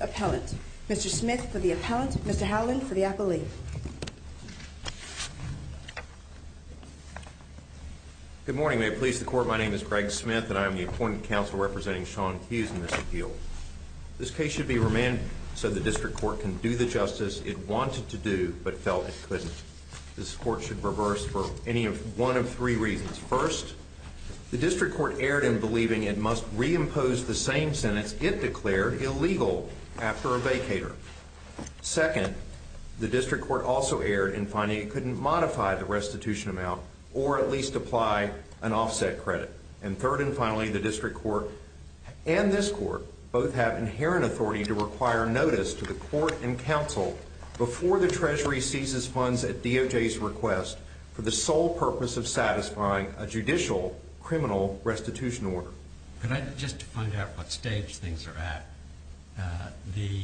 Appellant, Mr. Smith for the Appellant, Mr. Howland for the Appellee. Good morning. May it please the Court, my name is Greg Smith and I am the Appointed Counsel representing Shawn Hughes and Mr. Heal. This case should be remanded so the District Court can do the justice it wanted to do but felt it couldn't. This Court should reverse for any one of three reasons. First, the District Court erred in believing it must reimpose the same sentence it declared illegal after a vacator. Second, the District Court also erred in finding it couldn't modify the restitution amount or at least apply an offset credit. And third and finally, the District Court and this Court both have inherent authority to require notice to the Court and Counsel before the Treasury seizes funds at DOJ's request for the sole purpose of satisfying a judicial criminal restitution order. Could I just find out what stage things are at? The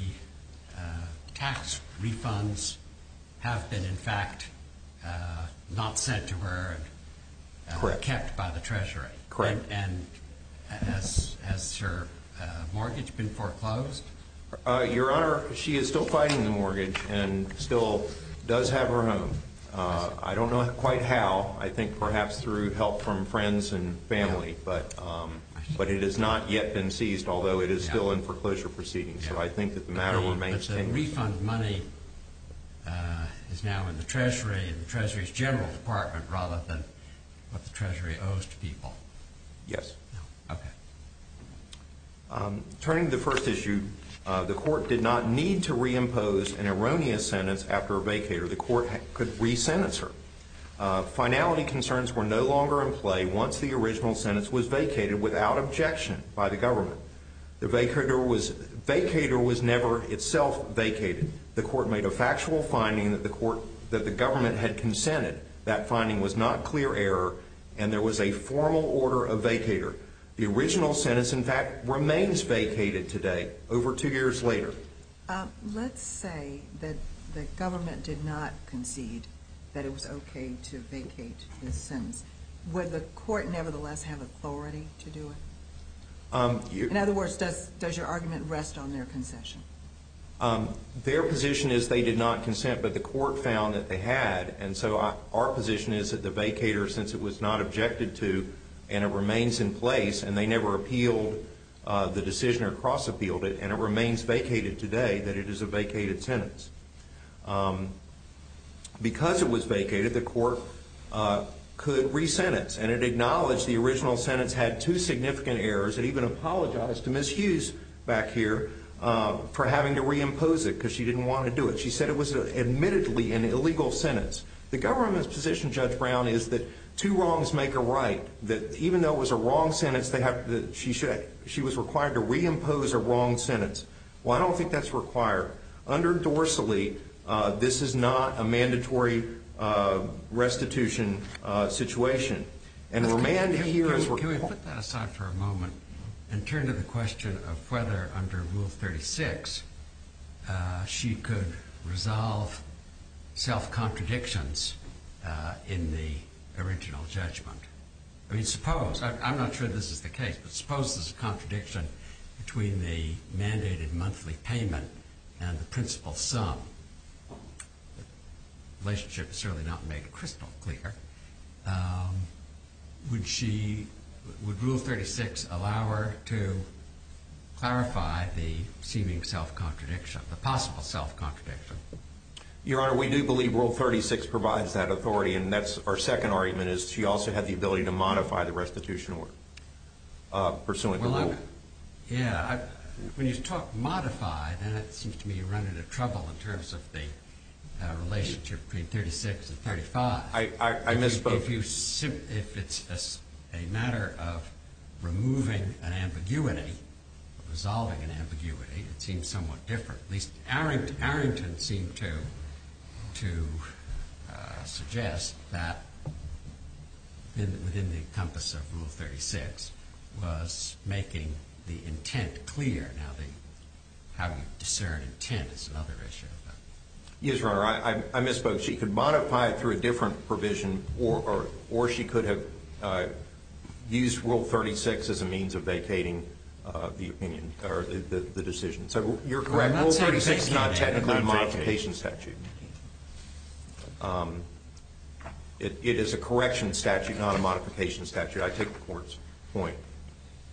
tax refunds have been in fact not said to have been kept by the Treasury. Correct. And has her mortgage been foreclosed? Your Honor, she is still fighting the mortgage and still does have her home. I don't know quite how. I think perhaps through help from friends and family. But it has not yet been seized although it is still in foreclosure proceedings. So I think that the matter remains tangled. But the refund money is now in the Treasury, in the Treasury's General Department rather than what the Treasury owes to people. Yes. Okay. Turning to the first issue, the Court did not need to reimpose an erroneous sentence after a vacator. The Court could re-sentence her. Finality concerns were no longer in play once the original sentence was vacated without objection by the government. The vacator was never itself vacated. The government had consented. That finding was not clear error and there was a formal order of vacator. The original sentence in fact remains vacated today, over two years later. Let's say that the government did not concede that it was okay to vacate the sentence. Would the Court nevertheless have authority to do it? In other words, does your argument rest on their concession? Their position is they did not consent but the Court found that they had and so our position is that the vacator, since it was not objected to and it remains in place and they never appealed the decision or cross-appealed it and it remains vacated today, that it is a vacated sentence. Because it was vacated, the Court could re-sentence and it acknowledged the original sentence had two significant errors. It even apologized to Ms. Hughes back here for having to re-impose it because she didn't want to do it. She said it was admittedly an illegal sentence. The government's position, Judge Brown, is that two wrongs make a right. That even though it was a wrong sentence, she was required to re-impose a wrong sentence. Well, I don't think that's required. Under Dorsalee, this is not a mandatory restitution situation. And we're manned here as we're called. Can we put that aside for a moment and turn to the question of whether, under Rule 36, she could resolve self-contradictions in the original judgment? I mean, suppose, I'm not sure this is the case, but suppose there's a contradiction between the mandated monthly payment and the principal sum. The relationship is certainly not made crystal clear. Would Rule 36 allow her to clarify the seeming self-contradiction, the possible self-contradiction? Your Honor, we do believe Rule 36 provides that authority. And that's our second argument, is she also had the ability to modify the restitution order, pursuant to Rule 36. Well, yeah. When you talk modify, then it seems to me you run into trouble in terms of the relationship between 36 and 35. I misspoke. If it's a matter of removing an ambiguity, resolving an ambiguity, it seems somewhat different. At least Arrington seemed to suggest that within the compass of Rule 36 was making the intent clear. Now, how you discern intent is another issue. Yes, Your Honor, I misspoke. She could modify it through a different provision, or she could have used Rule 36 as a means of vacating the decision. So you're correct. Rule 36 is not technically a modification statute. It is a correction statute, not a modification statute. I take the Court's point.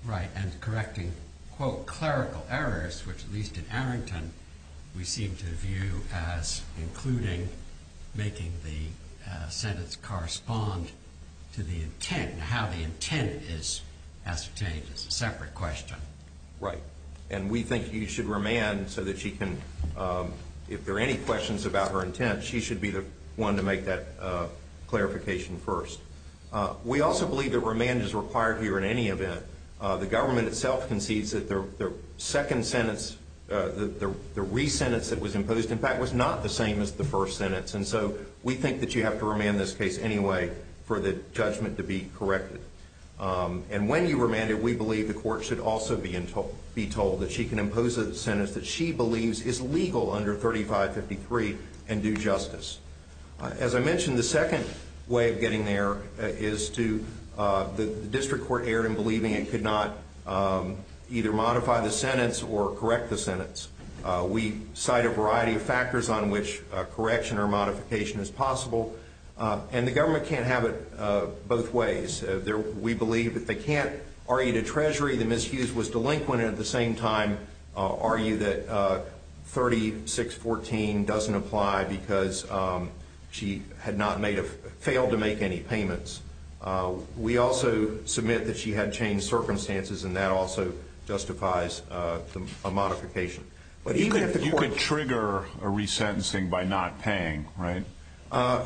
Right. And correcting, quote, clerical errors, which at least in Arrington we seem to view as including making the sentence correspond to the intent and how the intent is ascertained is a separate question. Right. And we think you should remand so that she can, if there are any questions about her intent, she should be the one to make that clarification first. We also believe that remand is required here in any event. The government itself concedes that the second sentence, the re-sentence that was imposed, in fact, was not the same as the first sentence. And so we think that you have to remand this case anyway for the judgment to be corrected. And when you remand it, we believe the Court should also be told that she can impose a sentence that she believes is legal under 3553 and due justice. As I mentioned, the second way of getting there is to, the district court erred in believing it could not either modify the sentence or correct the sentence. We cite a variety of factors on which correction or modification is possible. And the government can't have it both ways. We believe that they can't argue to Treasury that Ms. Hughes was delinquent and at the same time argue that 3614 doesn't apply because she had not failed to make any payments. We also submit that she had changed circumstances and that also justifies a modification. You could trigger a re-sentencing by not paying, right?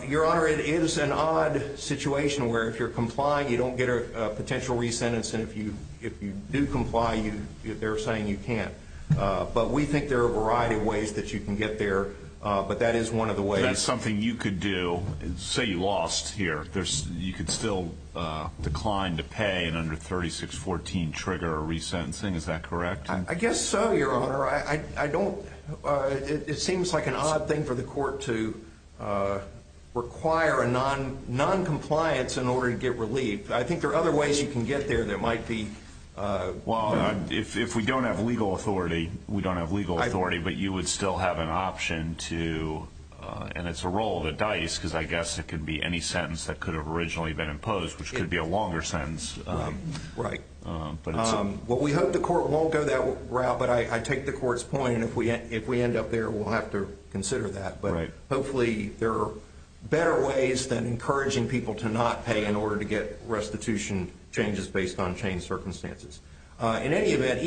Your Honor, it is an odd situation where if you're complying, you don't get a potential re-sentence and if you do comply, they're saying you can't. But we believe that is one of the ways. That's something you could do. Say you lost here. You could still decline to pay and under 3614 trigger a re-sentencing. Is that correct? I guess so, Your Honor. It seems like an odd thing for the Court to require a non-compliance in order to get relief. I think there are other ways you can get there that might be... If we don't have legal authority, we don't have legal authority, but you would still have an option to... And it's a roll of the dice because I guess it could be any sentence that could have originally been imposed, which could be a longer sentence. Right. We hope the Court won't go that route, but I take the Court's point and if we end up there, we'll have to consider that. But hopefully there are better ways than encouraging people to not pay in order to get restitution changes based on changed circumstances. In any event,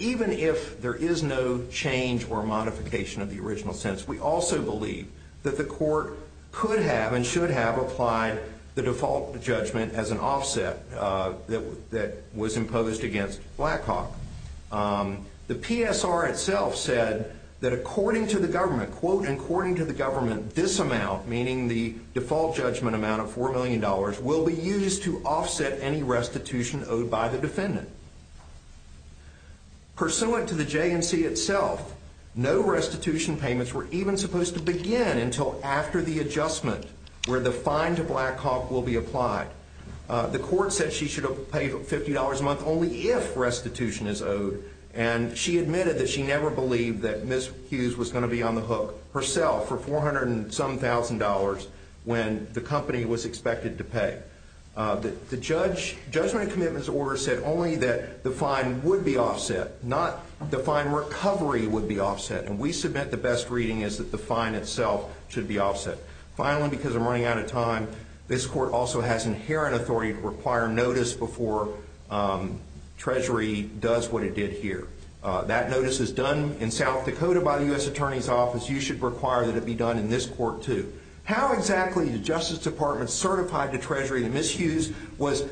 even if there is no change or modification of the original sentence, we also believe that the Court could have and should have applied the default judgment as an offset that was imposed against Blackhawk. The PSR itself said that according to the government, this amount, meaning the default judgment amount of $4 million, will be used to offset any restitution owed by the defendant. Pursuant to the JNC itself, no restitution payments were even supposed to begin until after the adjustment where the fine to Blackhawk will be applied. The Court said she should have paid $50 a month only if restitution is owed, and she admitted that she never believed that Ms. Hughes was going to be on the hook herself for $400-and-some-thousand when the company was expected to pay. The Judgment and Commitments Order said only that the fine would be offset, not the fine recovery would be offset, and we submit the best reading is that the fine itself should be offset. Finally, because I'm running out of time, this Court also has inherent authority to require notice before Treasury does what it did here. That notice is done in South Dakota by the U.S. Attorney's Office, and we require that it be done in this Court, too. How exactly did the Justice Department certify to Treasury that Ms. Hughes was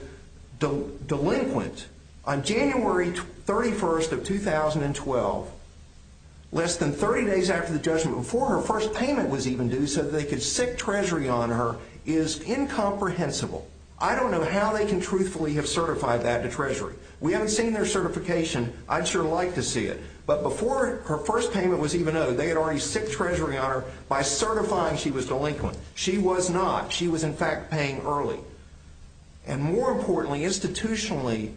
delinquent on January 31st of 2012, less than 30 days after the judgment, before her first payment was even due, so that they could sic Treasury on her is incomprehensible. I don't know how they can truthfully have certified that to Treasury. We haven't seen their certification. I'd sure like to see it, but before her first payment was due, the Justice Department certified to Treasury on her by certifying she was delinquent. She was not. She was, in fact, paying early. And more importantly, institutionally,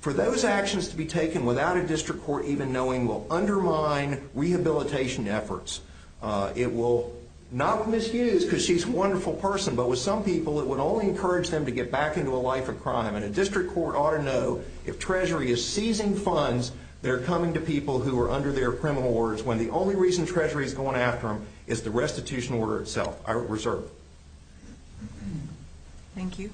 for those actions to be taken without a district court even knowing will undermine rehabilitation efforts. It will not misuse, because she's a wonderful person, but with some people it would only encourage them to get back into a life of crime. And a district court ought to know if Treasury is seizing funds that are coming to people who are under their criminal orders, when the only reason Treasury is going after them is the restitution order itself. I reserve. Thank you.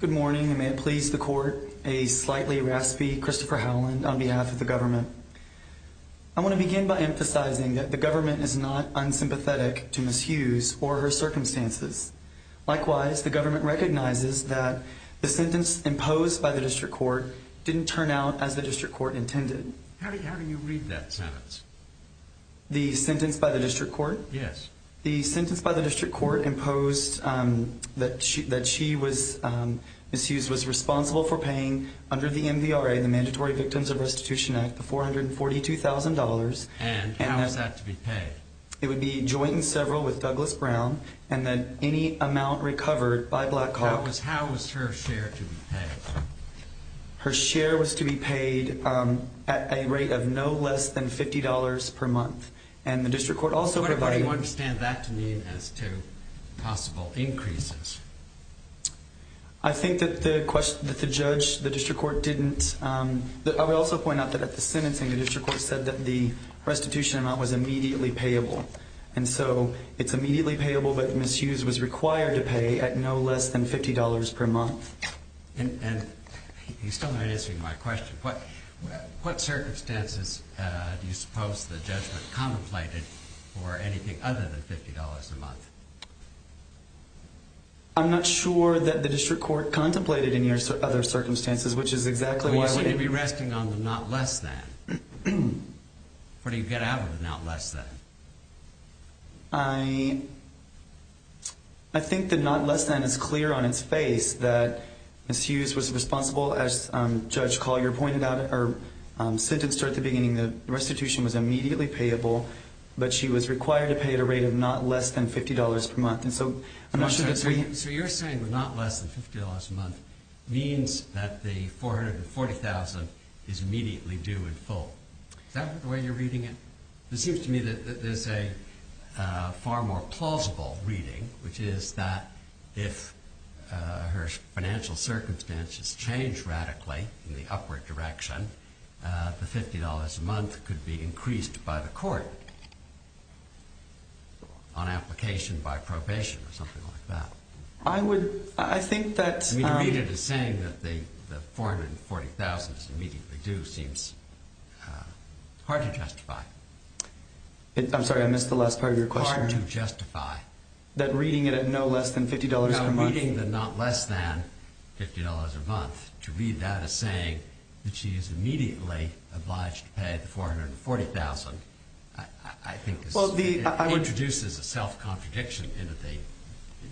Good morning, and may it please the Court, a slightly raspy Christopher Howland on behalf of the government. I want to begin by emphasizing that the government is not unsympathetic to Miss Hughes or her circumstances. Likewise, the government recognizes that the sentence imposed by the district court didn't turn out as the district court intended. How do you read that sentence? The sentence by the district court? Yes. The sentence by the district court imposed that she that she was Miss Hughes was responsible for paying under the MVRA, the Mandatory Victims of Restitution Act, the $442,000. And how was that to be paid? It would be joint and several with Douglas Brown, and then any amount recovered by Black Hawk. How was her share to be paid? Her share was to be paid at a rate of no less than $50 per month. And the district court also provided... What do you understand that to mean as to possible increases? I think that the question that the judge, the district court didn't... I would also point out that at the sentencing, the district court said that the restitution amount was immediately payable. And so it's immediately payable, but Miss Hughes was required to pay at no less than $50 per month. And you still aren't answering my question. What circumstances do you suppose the judgment contemplated for anything other than $50 a month? I'm not sure that the district court contemplated any other circumstances, which is exactly why... So you'd be resting on the not less than. What do you get out of the not less than? I think the not less than is clear on its face that Miss Hughes was responsible as Judge Collier pointed out in her sentence at the beginning. The restitution was immediately payable, but she was required to pay at a rate of not less than $50 per month. And so... So you're saying the not less than $50 a month means that the $440,000 is immediately due in full. Is that the way you're reading it? It seems to me that there's a far more plausible reading, which is that if her financial circumstances change radically in the upward direction, the $50 a month could be increased by the court on application by probation or something like that. I would... I think that... I mean, to read it as saying that the $440,000 is immediately due seems hard to justify. I'm sorry, I missed the last part of your question. Hard to justify. That reading it at no less than $50 per month... No, reading the not less than $50 a month, the $440,000 is immediately obliged to pay, the $440,000, I think... Well, the... It introduces a self-contradiction into the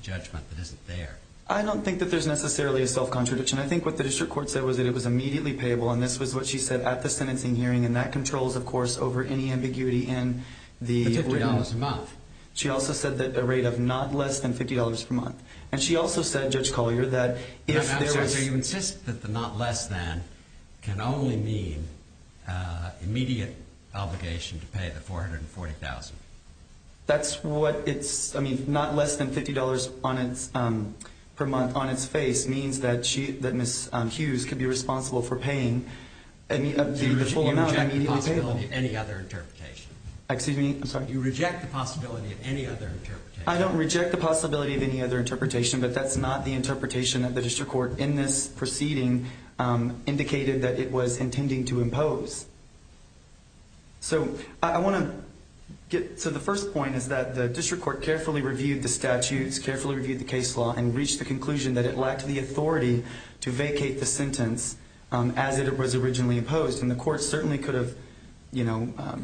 judgment that isn't there. I don't think that there's necessarily a self-contradiction. I think what the district court said was that it was immediately payable, and this was what she said at the sentencing hearing, and that controls, of course, over any ambiguity in the... The $50 a month. She also said that a rate of not less than $50 per month. And she also said, Judge Collier, that if there is... Judge Collier, you insist that the not less than can only mean immediate obligation to pay the $440,000. That's what it's... I mean, not less than $50 per month on its face means that she... That Ms. Hughes could be responsible for paying the full amount immediately payable. You reject the possibility of any other interpretation. Excuse me? I'm sorry. You reject the possibility of any other interpretation. I don't reject the possibility of any other interpretation. I don't think that the court's unanimous proceeding indicated that it was intending to impose. So I want to get... So the first point is that the district court carefully reviewed the statutes, carefully reviewed the case law, and reached the conclusion that it lacked the authority to vacate the sentence as it was originally imposed, and the court certainly could have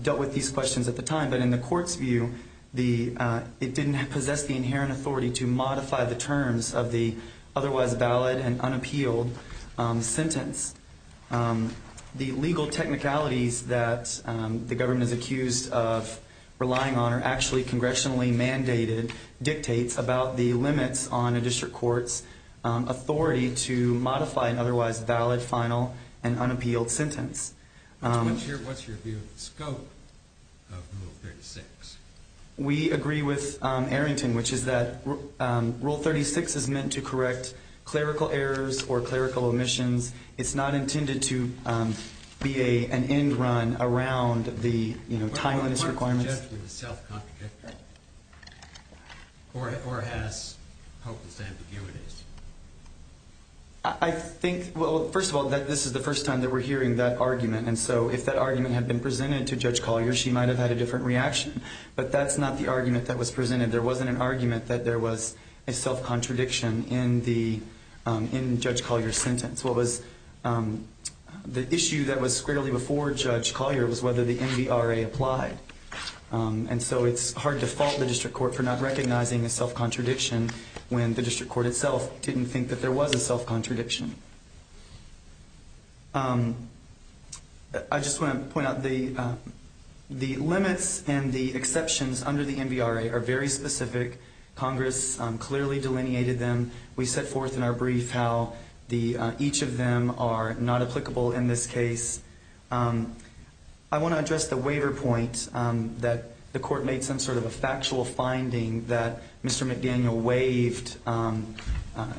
dealt with these questions at the time. But in the court's view, it didn't possess the inherent authority to modify the terms of the otherwise valid and unappealed sentence. The legal technicalities that the government is accused of relying on are actually congressionally mandated dictates about the limits on a district court's authority to modify an otherwise valid, final, and unappealed sentence. What's your view of the scope of Rule 36? We agree with Arrington, which is that Rule 36 is meant to correct clerical errors or clerical omissions. It's not intended to be an end-run around the timeliness requirements. What's your view of self-contradiction? Or has hopeless ambiguities? I think, well, first of all, that this is the first time that we're hearing that argument. And so if that argument had been presented to Judge Collier, she might have had a different reaction. But that's not the argument that was presented. There wasn't an argument that there was a self-contradiction in Judge Collier's sentence. The issue that was squarely before Judge Collier was whether the NBRA applied. And so it's hard to fault the district court for not recognizing a self-contradiction when the district court itself didn't think that there was a self-contradiction. I just want to point out the limits and the exceptions under the NBRA are very specific. Congress clearly delineated them. We set forth in our brief how each of them are not applicable in this case. I want to address the waiver point that the court made some sort of a factual finding that Mr. McDaniel waived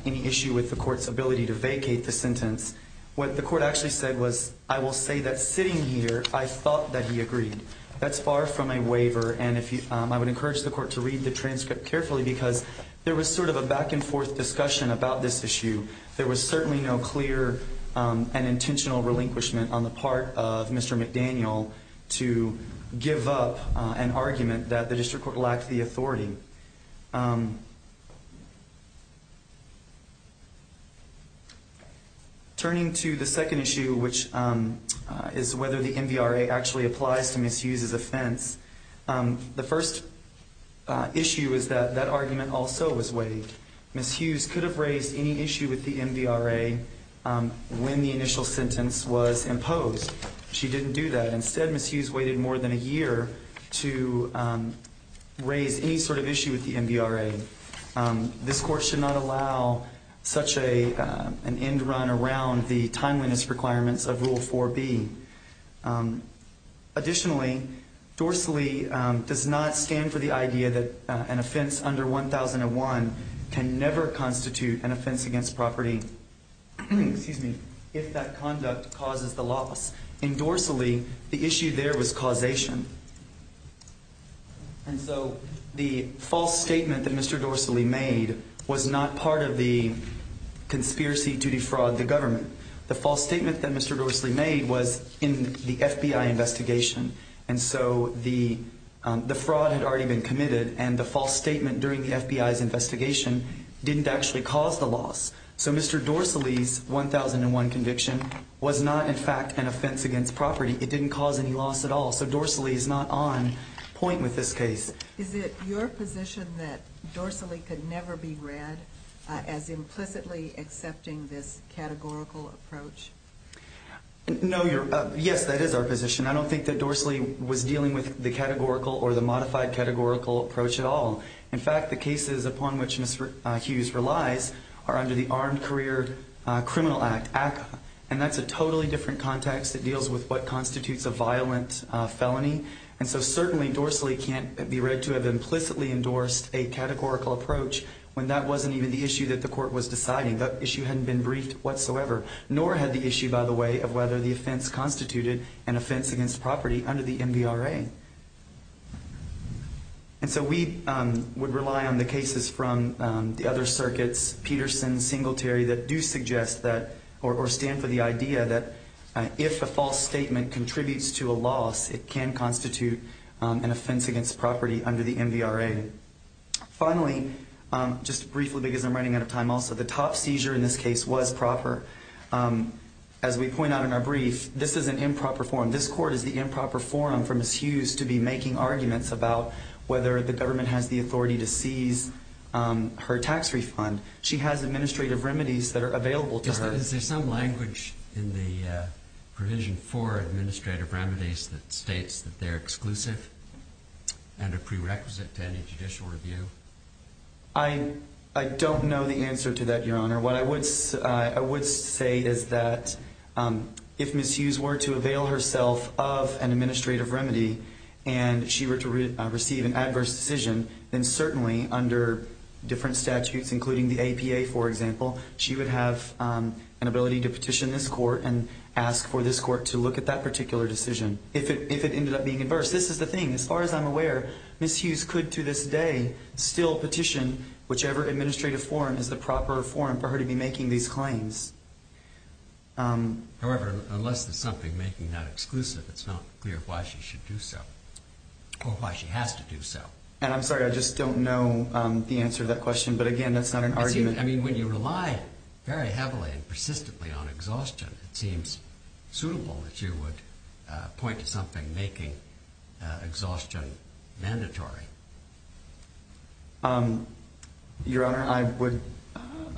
any issue with the court's ability to vacate the sentence. What the court actually said was, I will say that sitting here, I thought that he agreed. That's far from a waiver. And I would encourage the court to read the transcript carefully because there was sort of a back and forth discussion about this issue. There was certainly no clear and intentional relinquishment on the part of Mr. McDaniel to give up an argument that the district court lacked the authority. Turning to the second issue, which is whether the NBRA actually applies to Ms. Hughes' offense, the first issue is that that argument also was waived. Ms. Hughes could have raised any issue with the NBRA when the initial sentence was imposed. She didn't do that. Instead, Ms. Hughes waited more than a year to raise any sort of issue with the NBRA. This court should not allow such an end run around the timeliness requirements of Rule 4B. Additionally, dorsally does not stand for the idea that an offense under 1001 can never constitute an offense against property if that conduct causes the loss. In dorsally, the issue there was causation. And so the false statement that Mr. Dorsally made was not part of the conspiracy to defraud the government. The false statement that Mr. Dorsally made was in the FBI investigation. And so the fraud had already been committed and the false statement during the FBI's investigation didn't actually cause the loss. So Mr. Dorsally's 1001 conviction was not, in fact, an offense against property. It didn't cause any loss at all. So dorsally is not on point with this case. Is it your position that dorsally could never be read as implicitly accepting this categorical approach? No. Yes, that is our position. I don't think that dorsally was dealing with the categorical or the modified categorical approach at all. In fact, the cases upon which Ms. Hughes relies are under the Armed Career Criminal Act. And that's a totally different context. It deals with what constitutes a violent felony. And so certainly dorsally can't be read to have implicitly endorsed a categorical approach when that wasn't even the issue that the court was deciding. That issue hadn't been briefed whatsoever. Nor had the issue, by the way, of whether the offense constituted an offense against property under the MVRA. And so we would rely on the cases from the other circuits, Peterson, Singletary, that do suggest that or stand for the idea that if a false statement contributes to a loss, it can constitute an offense against property under the MVRA. Finally, just briefly because I'm running out of time also, the top seizure in this case was proper. As we point out in our brief, this is an improper forum. This court is the improper forum for Ms. Hughes to be making arguments about whether the government has the authority to seize her tax refund. She has administrative remedies that are available to her. Is there some language in the provision for administrative remedies that states that they're exclusive and a prerequisite to any judicial review? I don't know the answer to that, Your Honor. What I would say is that if Ms. Hughes were to avail herself of an administrative remedy and she were to receive an adverse decision, then certainly under different statutes, including the APA, for example, she would have an ability to petition this court and ask for this court to look at that particular decision. If it ended up being adverse, this is the thing. As far as I'm aware, Ms. Hughes could to this day still petition whichever administrative forum is the proper forum for her to be making these claims. However, unless there's something making that exclusive, it's not clear why she should do so or why she has to do so. And I'm sorry, I just don't know the answer to that question, but again, that's not an argument. I mean, when you rely very heavily and persistently on exhaustion, it seems suitable that you would point to something making exhaustion mandatory. Your Honor,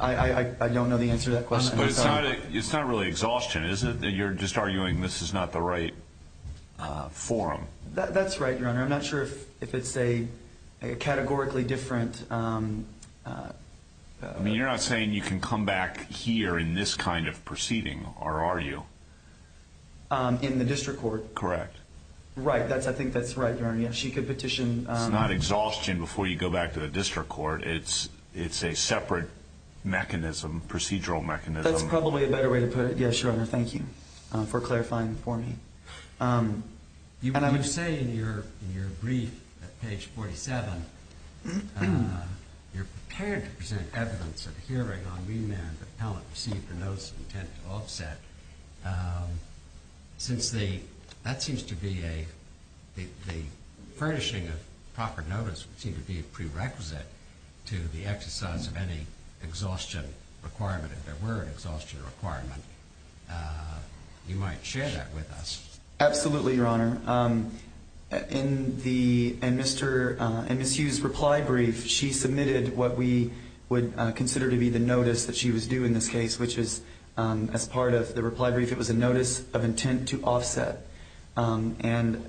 I don't know the answer to that question. But it's not really exhaustion, is it? You're just arguing this is not the right forum. That's right, Your Honor. I'm not sure if it's a categorically different... I mean, you're not saying you can come back here in this kind of proceeding, are you? In the district court? Correct. Right. I think that's right, Your Honor. She could petition... It's not exhaustion before you go back to the district court. It's a separate mechanism, procedural mechanism. That's probably a better way to put it. Yes, Your Honor. Thank you for clarifying for me. You say in your brief at page 47, you're prepared to present evidence of a hearing on remand if an appellant received a notice of intent to offset. Since that seems to be a furnishing of proper notice, which seems to be a prerequisite to the exercise of any exhaustion requirement, if there were an exhaustion requirement, you might share that with us. Absolutely, Your Honor. In Ms. Hughes' reply brief, she submitted what we would consider to be the notice that she was due in this case, which is as part of the reply brief, it was a notice of intent to offset. I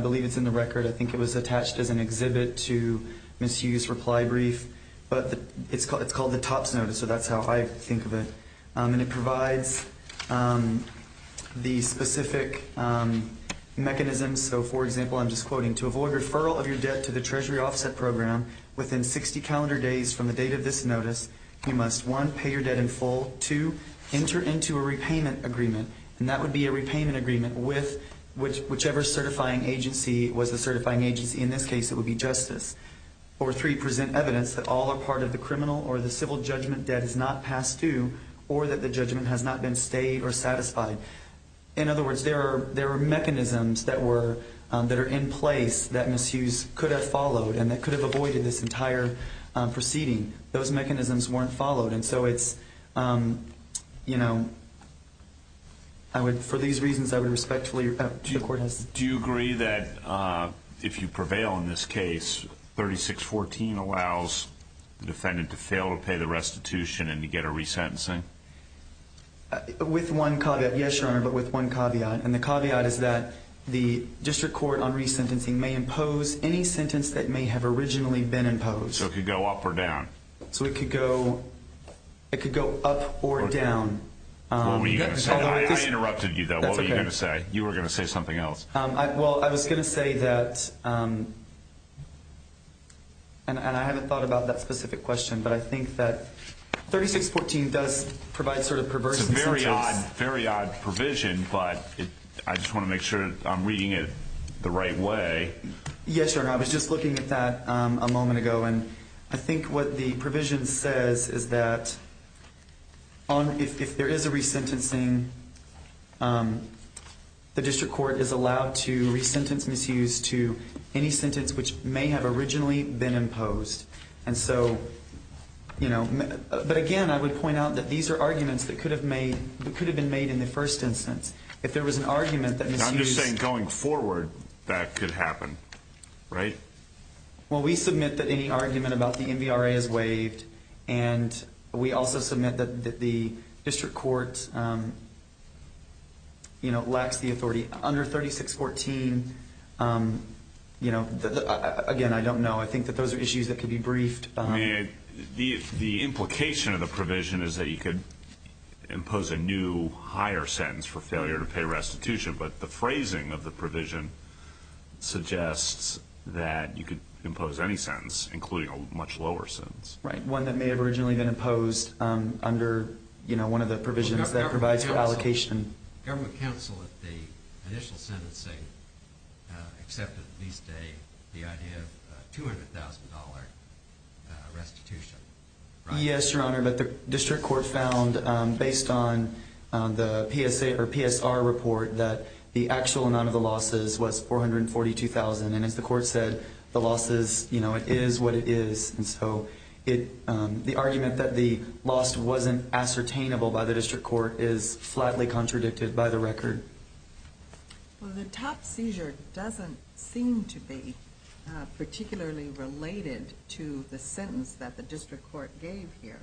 believe it's in the record. I think it was attached as an exhibit to Ms. Hughes' reply brief. But it's called the TOPS notice, so that's how I think of it. It provides the specific mechanisms. For example, I'm just quoting, to avoid referral of your debt to the Treasury offset program within 60 calendar days from the date of this notice, you must, one, pay your debt in full, two, enter into a repayment agreement. That would be a repayment agreement with whichever certifying agency. It was a certifying agency. In this case, it would be Justice. Or three, present evidence that all or part of the criminal or the civil judgment debt is not past due or that the judgment has not been stayed or satisfied. In other words, there are mechanisms that are in place that Ms. Hughes could have followed and that could have avoided this entire proceeding. Those mechanisms weren't followed. And so it's, you know, I would, for these reasons, I would respectfully request that the court has. Do you agree that if you prevail in this case, 3614 allows the defendant to fail to pay the restitution and to get a resentencing? With one caveat, yes, Your Honor, but with one caveat. And the caveat is that the district court on resentencing may impose any sentence that may have originally been imposed. So it could go up or down. So it could go up or down. What were you going to say? I interrupted you, though. That's okay. What were you going to say? You were going to say something else. Well, I was going to say that, and I haven't thought about that specific question, but I think that 3614 does provide sort of perverse sentence. It's a very odd provision, but I just want to make sure I'm reading it the right way. Yes, Your Honor, I was just looking at that a moment ago, and I think what the provision says is that if there is a resentencing, then the district court is allowed to resentence misuse to any sentence which may have originally been imposed. But, again, I would point out that these are arguments that could have been made in the first instance. If there was an argument that misuse – I'm just saying going forward that could happen, right? Well, we submit that any argument about the MVRA is waived, and we also submit that the district court lacks the authority. Under 3614, again, I don't know. I think that those are issues that could be briefed. The implication of the provision is that you could impose a new, higher sentence for failure to pay restitution, but the phrasing of the provision suggests that you could impose any sentence, including a much lower sentence. Right, one that may have originally been imposed under one of the provisions that provides for allocation. Government counsel at the initial sentencing accepted at least the idea of $200,000 restitution, right? But the actual amount of the losses was $442,000, and as the court said, the losses, you know, it is what it is. And so the argument that the loss wasn't ascertainable by the district court is flatly contradicted by the record. Well, the top seizure doesn't seem to be particularly related to the sentence that the district court gave here.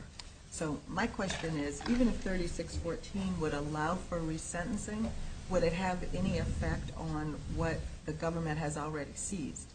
So my question is, even if 3614 would allow for resentencing, would it have any effect on what the government has already seized?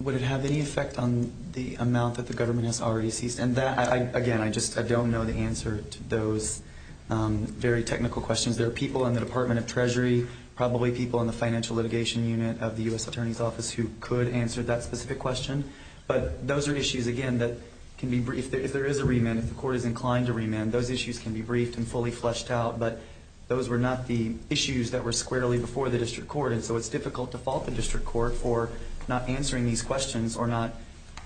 Would it have any effect on the amount that the government has already seized? And that, again, I just don't know the answer to those very technical questions. There are people in the Department of Treasury, probably people in the financial litigation unit of the U.S. Attorney's Office who could answer that specific question. But those are issues, again, that can be briefed. If there is a remand, if the court is inclined to remand, those issues can be briefed and fully fleshed out. But those were not the issues that were squarely before the district court, and so it's difficult to fault the district court for not answering these questions or not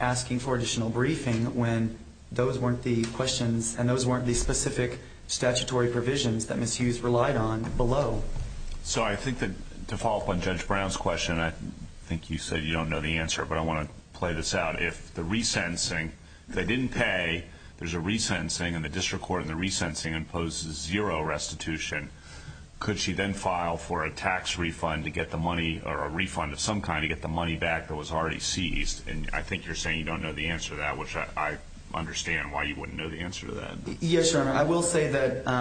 asking for additional briefing when those weren't the questions and those weren't the specific statutory provisions that Ms. Hughes relied on below. So I think that to follow up on Judge Brown's question, I think you said you don't know the answer, but I want to play this out. If the resentencing, if they didn't pay, there's a resentencing and the district court in the resentencing imposes zero restitution. Could she then file for a tax refund to get the money or a refund of some kind to get the money back that was already seized? And I think you're saying you don't know the answer to that, which I understand why you wouldn't know the answer to that. Yes, Your Honor, I will say that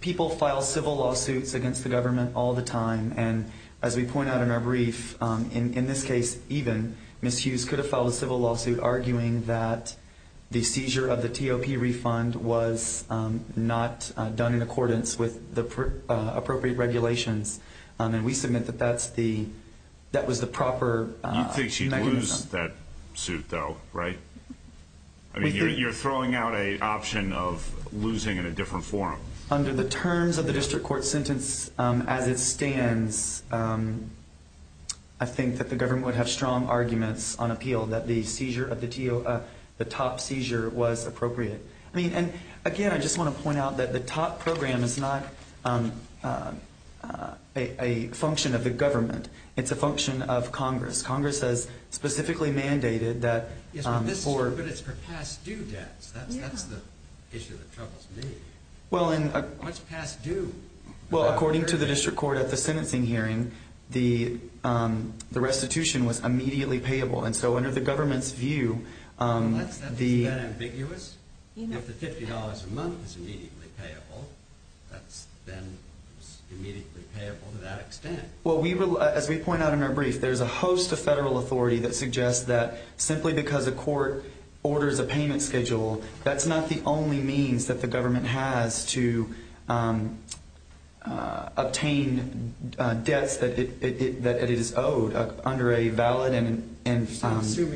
people file civil lawsuits against the government all the time. And as we point out in our brief, in this case even, Ms. Hughes could have filed a civil lawsuit arguing that the seizure of the TOP refund was not done in accordance with the appropriate regulations. And we submit that that was the proper mechanism. You think she'd lose that suit, though, right? I mean, you're throwing out an option of losing in a different forum. Under the terms of the district court sentence as it stands, I think that the government would have strong arguments on appeal that the top seizure was appropriate. I mean, and again, I just want to point out that the TOP program is not a function of the government. It's a function of Congress. Congress has specifically mandated that for... Yes, but it's for past due debts. That's the issue that troubles me. Well, and... What's past due? Well, according to the district court at the sentencing hearing, the restitution was immediately payable. And so under the government's view, the... If the $50 a month is immediately payable, that's then immediately payable to that extent. Well, as we point out in our brief, there's a host of federal authority that suggests that simply because a court orders a payment schedule, that's not the only means that the government has to obtain debts that it is owed under a valid and final... Right?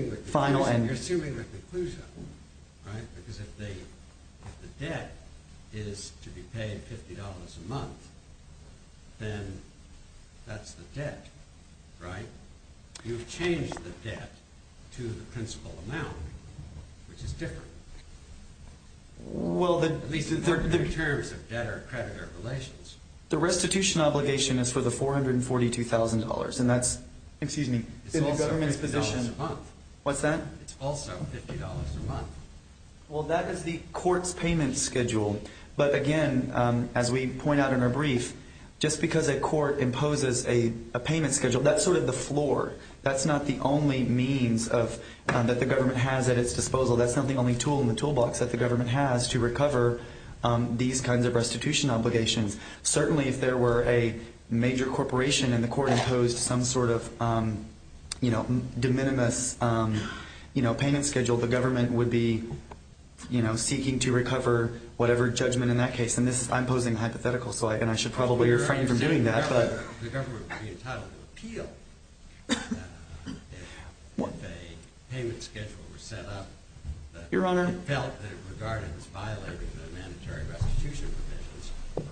Because if the debt is to be paid $50 a month, then that's the debt, right? You've changed the debt to the principal amount, which is different. Well, the... At least in terms of debtor-creditor relations. The restitution obligation is for the $442,000, and that's... Excuse me. In the government's position... It's also $50 a month. What's that? It's also $50 a month. Well, that is the court's payment schedule. But again, as we point out in our brief, just because a court imposes a payment schedule, that's sort of the floor. That's not the only means that the government has at its disposal. That's not the only tool in the toolbox that the government has to recover these kinds of restitution obligations. Certainly, if there were a major corporation and the court imposed some sort of de minimis payment schedule, the government would be seeking to recover whatever judgment in that case. And I'm posing a hypothetical, and I should probably refrain from doing that. The government would be entitled to appeal if a payment schedule were set up... Your Honor. ...regarding violating the mandatory restitution provisions.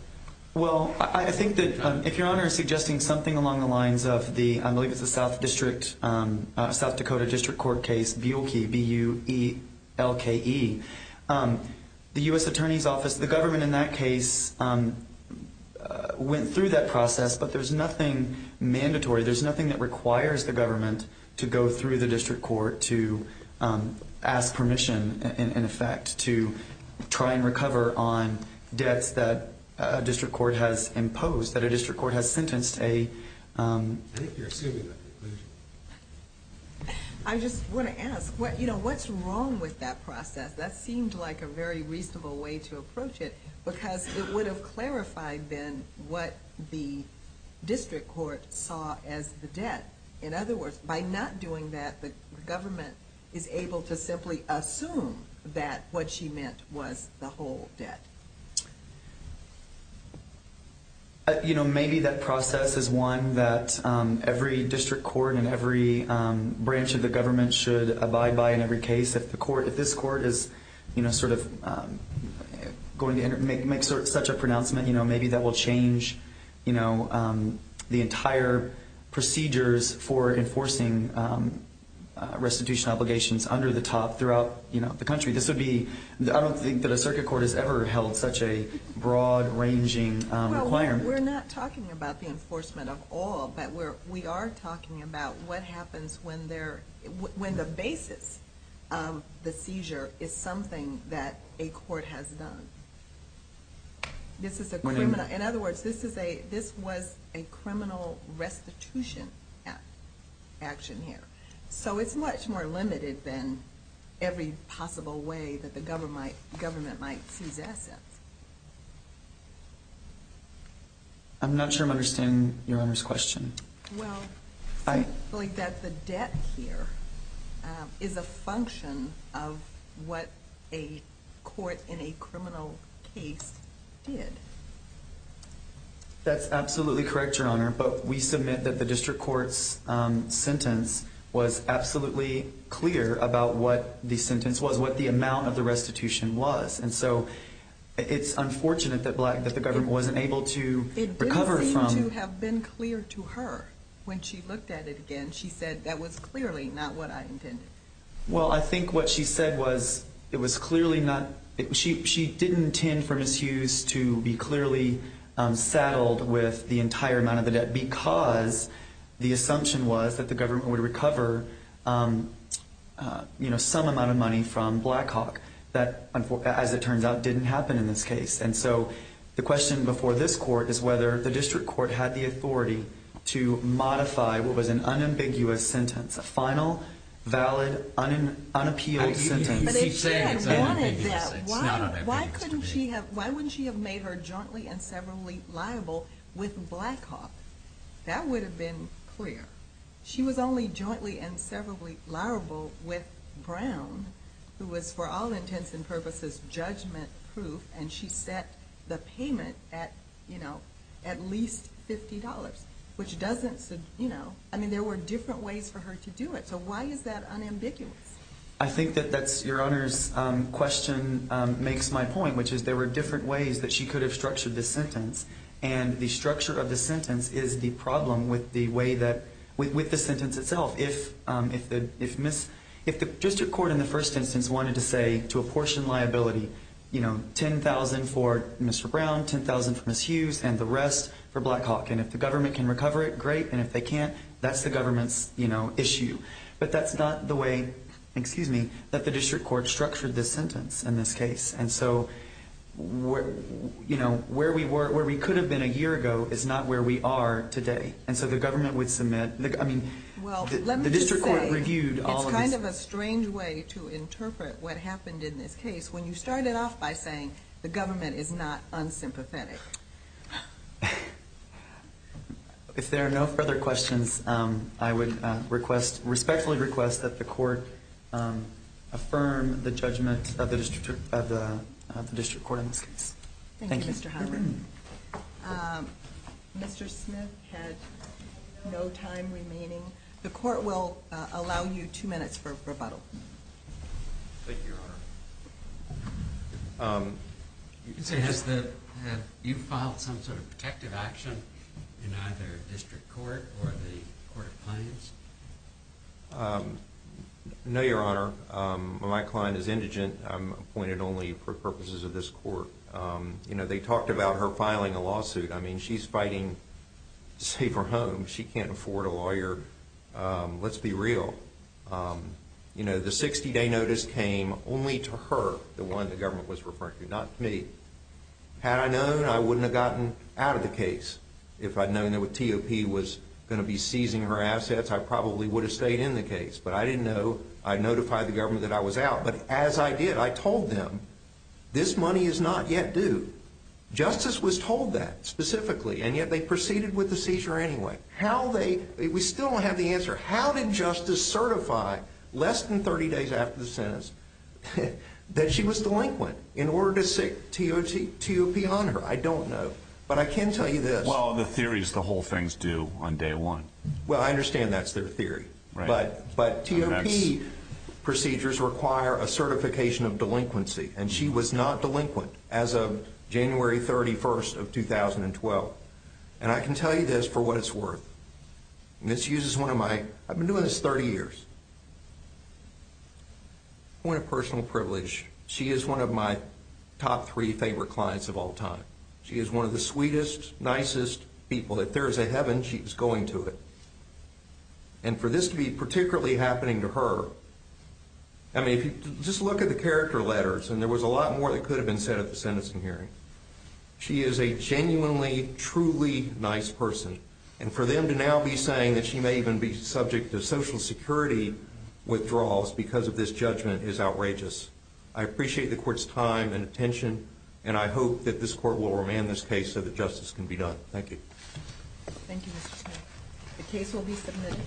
Well, I think that if Your Honor is suggesting something along the lines of the, I believe it's the South District, South Dakota District Court case, Buelke, B-U-E-L-K-E, the U.S. Attorney's Office, the government in that case went through that process, but there's nothing mandatory. There's nothing that requires the government to go through the district court to ask permission, in effect, to try and recover on debts that a district court has imposed, that a district court has sentenced a... I think you're assuming that conclusion. I just want to ask, you know, what's wrong with that process? That seemed like a very reasonable way to approach it, because it would have clarified, then, what the district court saw as the debt. In other words, by not doing that, the government is able to simply assume that what she meant was the whole debt. You know, maybe that process is one that every district court and every branch of the government should abide by in every case. If the court, if this court is, you know, sort of going to make such a pronouncement, you know, maybe that will change, you know, the entire procedures for enforcing restitution obligations under the top throughout, you know, the country. This would be, I don't think that a circuit court has ever held such a broad-ranging requirement. Well, we're not talking about the enforcement of all, but we are talking about what happens when the basis of the seizure is something that a court has done. This is a criminal... In other words, this was a criminal restitution action here. So it's much more limited than every possible way that the government might seize assets. I'm not sure I'm understanding Your Honor's question. Well, I believe that the debt here is a function of what a court in a criminal case did. That's absolutely correct, Your Honor. But we submit that the district court's sentence was absolutely clear about what the sentence was, what the amount of the restitution was. And so it's unfortunate that the government wasn't able to recover from... When she looked at it again, she said that was clearly not what I intended. Well, I think what she said was it was clearly not... She didn't intend for Ms. Hughes to be clearly saddled with the entire amount of the debt because the assumption was that the government would recover, you know, some amount of money from Blackhawk. That, as it turns out, didn't happen in this case. And so the question before this court is whether the district court had the authority to modify what was an unambiguous sentence, a final, valid, unappealed sentence. But if she had wanted that, why wouldn't she have made her jointly and severably liable with Blackhawk? That would have been clear. She was only jointly and severably liable with Brown, who was for all intents and purposes judgment-proof, and she set the payment at, you know, at least $50, which doesn't... You know, I mean, there were different ways for her to do it. So why is that unambiguous? I think that that's your Honor's question makes my point, which is there were different ways that she could have structured this sentence, and the structure of the sentence is the problem with the sentence itself. If the district court in the first instance wanted to say to apportion liability, you know, $10,000 for Mr. Brown, $10,000 for Ms. Hughes, and the rest for Blackhawk. And if the government can recover it, great. And if they can't, that's the government's, you know, issue. But that's not the way, excuse me, that the district court structured this sentence in this case. And so, you know, where we could have been a year ago is not where we are today. And so the government would submit, I mean, the district court reviewed all of this. Well, let me just say it's kind of a strange way to interpret what happened in this case. When you started off by saying the government is not unsympathetic. If there are no further questions, I would respectfully request that the court affirm the judgment of the district court in this case. Thank you, Mr. Howard. Mr. Smith had no time remaining. The court will allow you two minutes for rebuttal. Thank you, Your Honor. You can say, has the, have you filed some sort of protective action in either district court or the court of claims? No, Your Honor. My client is indigent. I'm appointed only for purposes of this court. You know, they talked about her filing a lawsuit. I mean, she's fighting to save her home. She can't afford a lawyer. Let's be real. You know, the 60-day notice came only to her, the one the government was referring to, not me. Had I known, I wouldn't have gotten out of the case. If I'd known that T.O.P. was going to be seizing her assets, I probably would have stayed in the case. But I didn't know. I notified the government that I was out. But as I did, I told them, this money is not yet due. Justice was told that specifically, and yet they proceeded with the seizure anyway. How they, we still don't have the answer. How did justice certify less than 30 days after the sentence that she was delinquent in order to sit T.O.P. on her? I don't know. But I can tell you this. Well, the theory is the whole thing is due on day one. Well, I understand that's their theory. But T.O.P. procedures require a certification of delinquency. And she was not delinquent as of January 31st of 2012. And I can tell you this for what it's worth. And this uses one of my, I've been doing this 30 years. Point of personal privilege. She is one of my top three favorite clients of all time. She is one of the sweetest, nicest people. If there is a heaven, she is going to it. And for this to be particularly happening to her, I mean, just look at the character letters. And there was a lot more that could have been said at the sentencing hearing. She is a genuinely, truly nice person. And for them to now be saying that she may even be subject to Social Security withdrawals because of this judgment is outrageous. I appreciate the court's time and attention. And I hope that this court will remand this case so that justice can be done. Thank you. Thank you, Mr. Smith. The case will be submitted.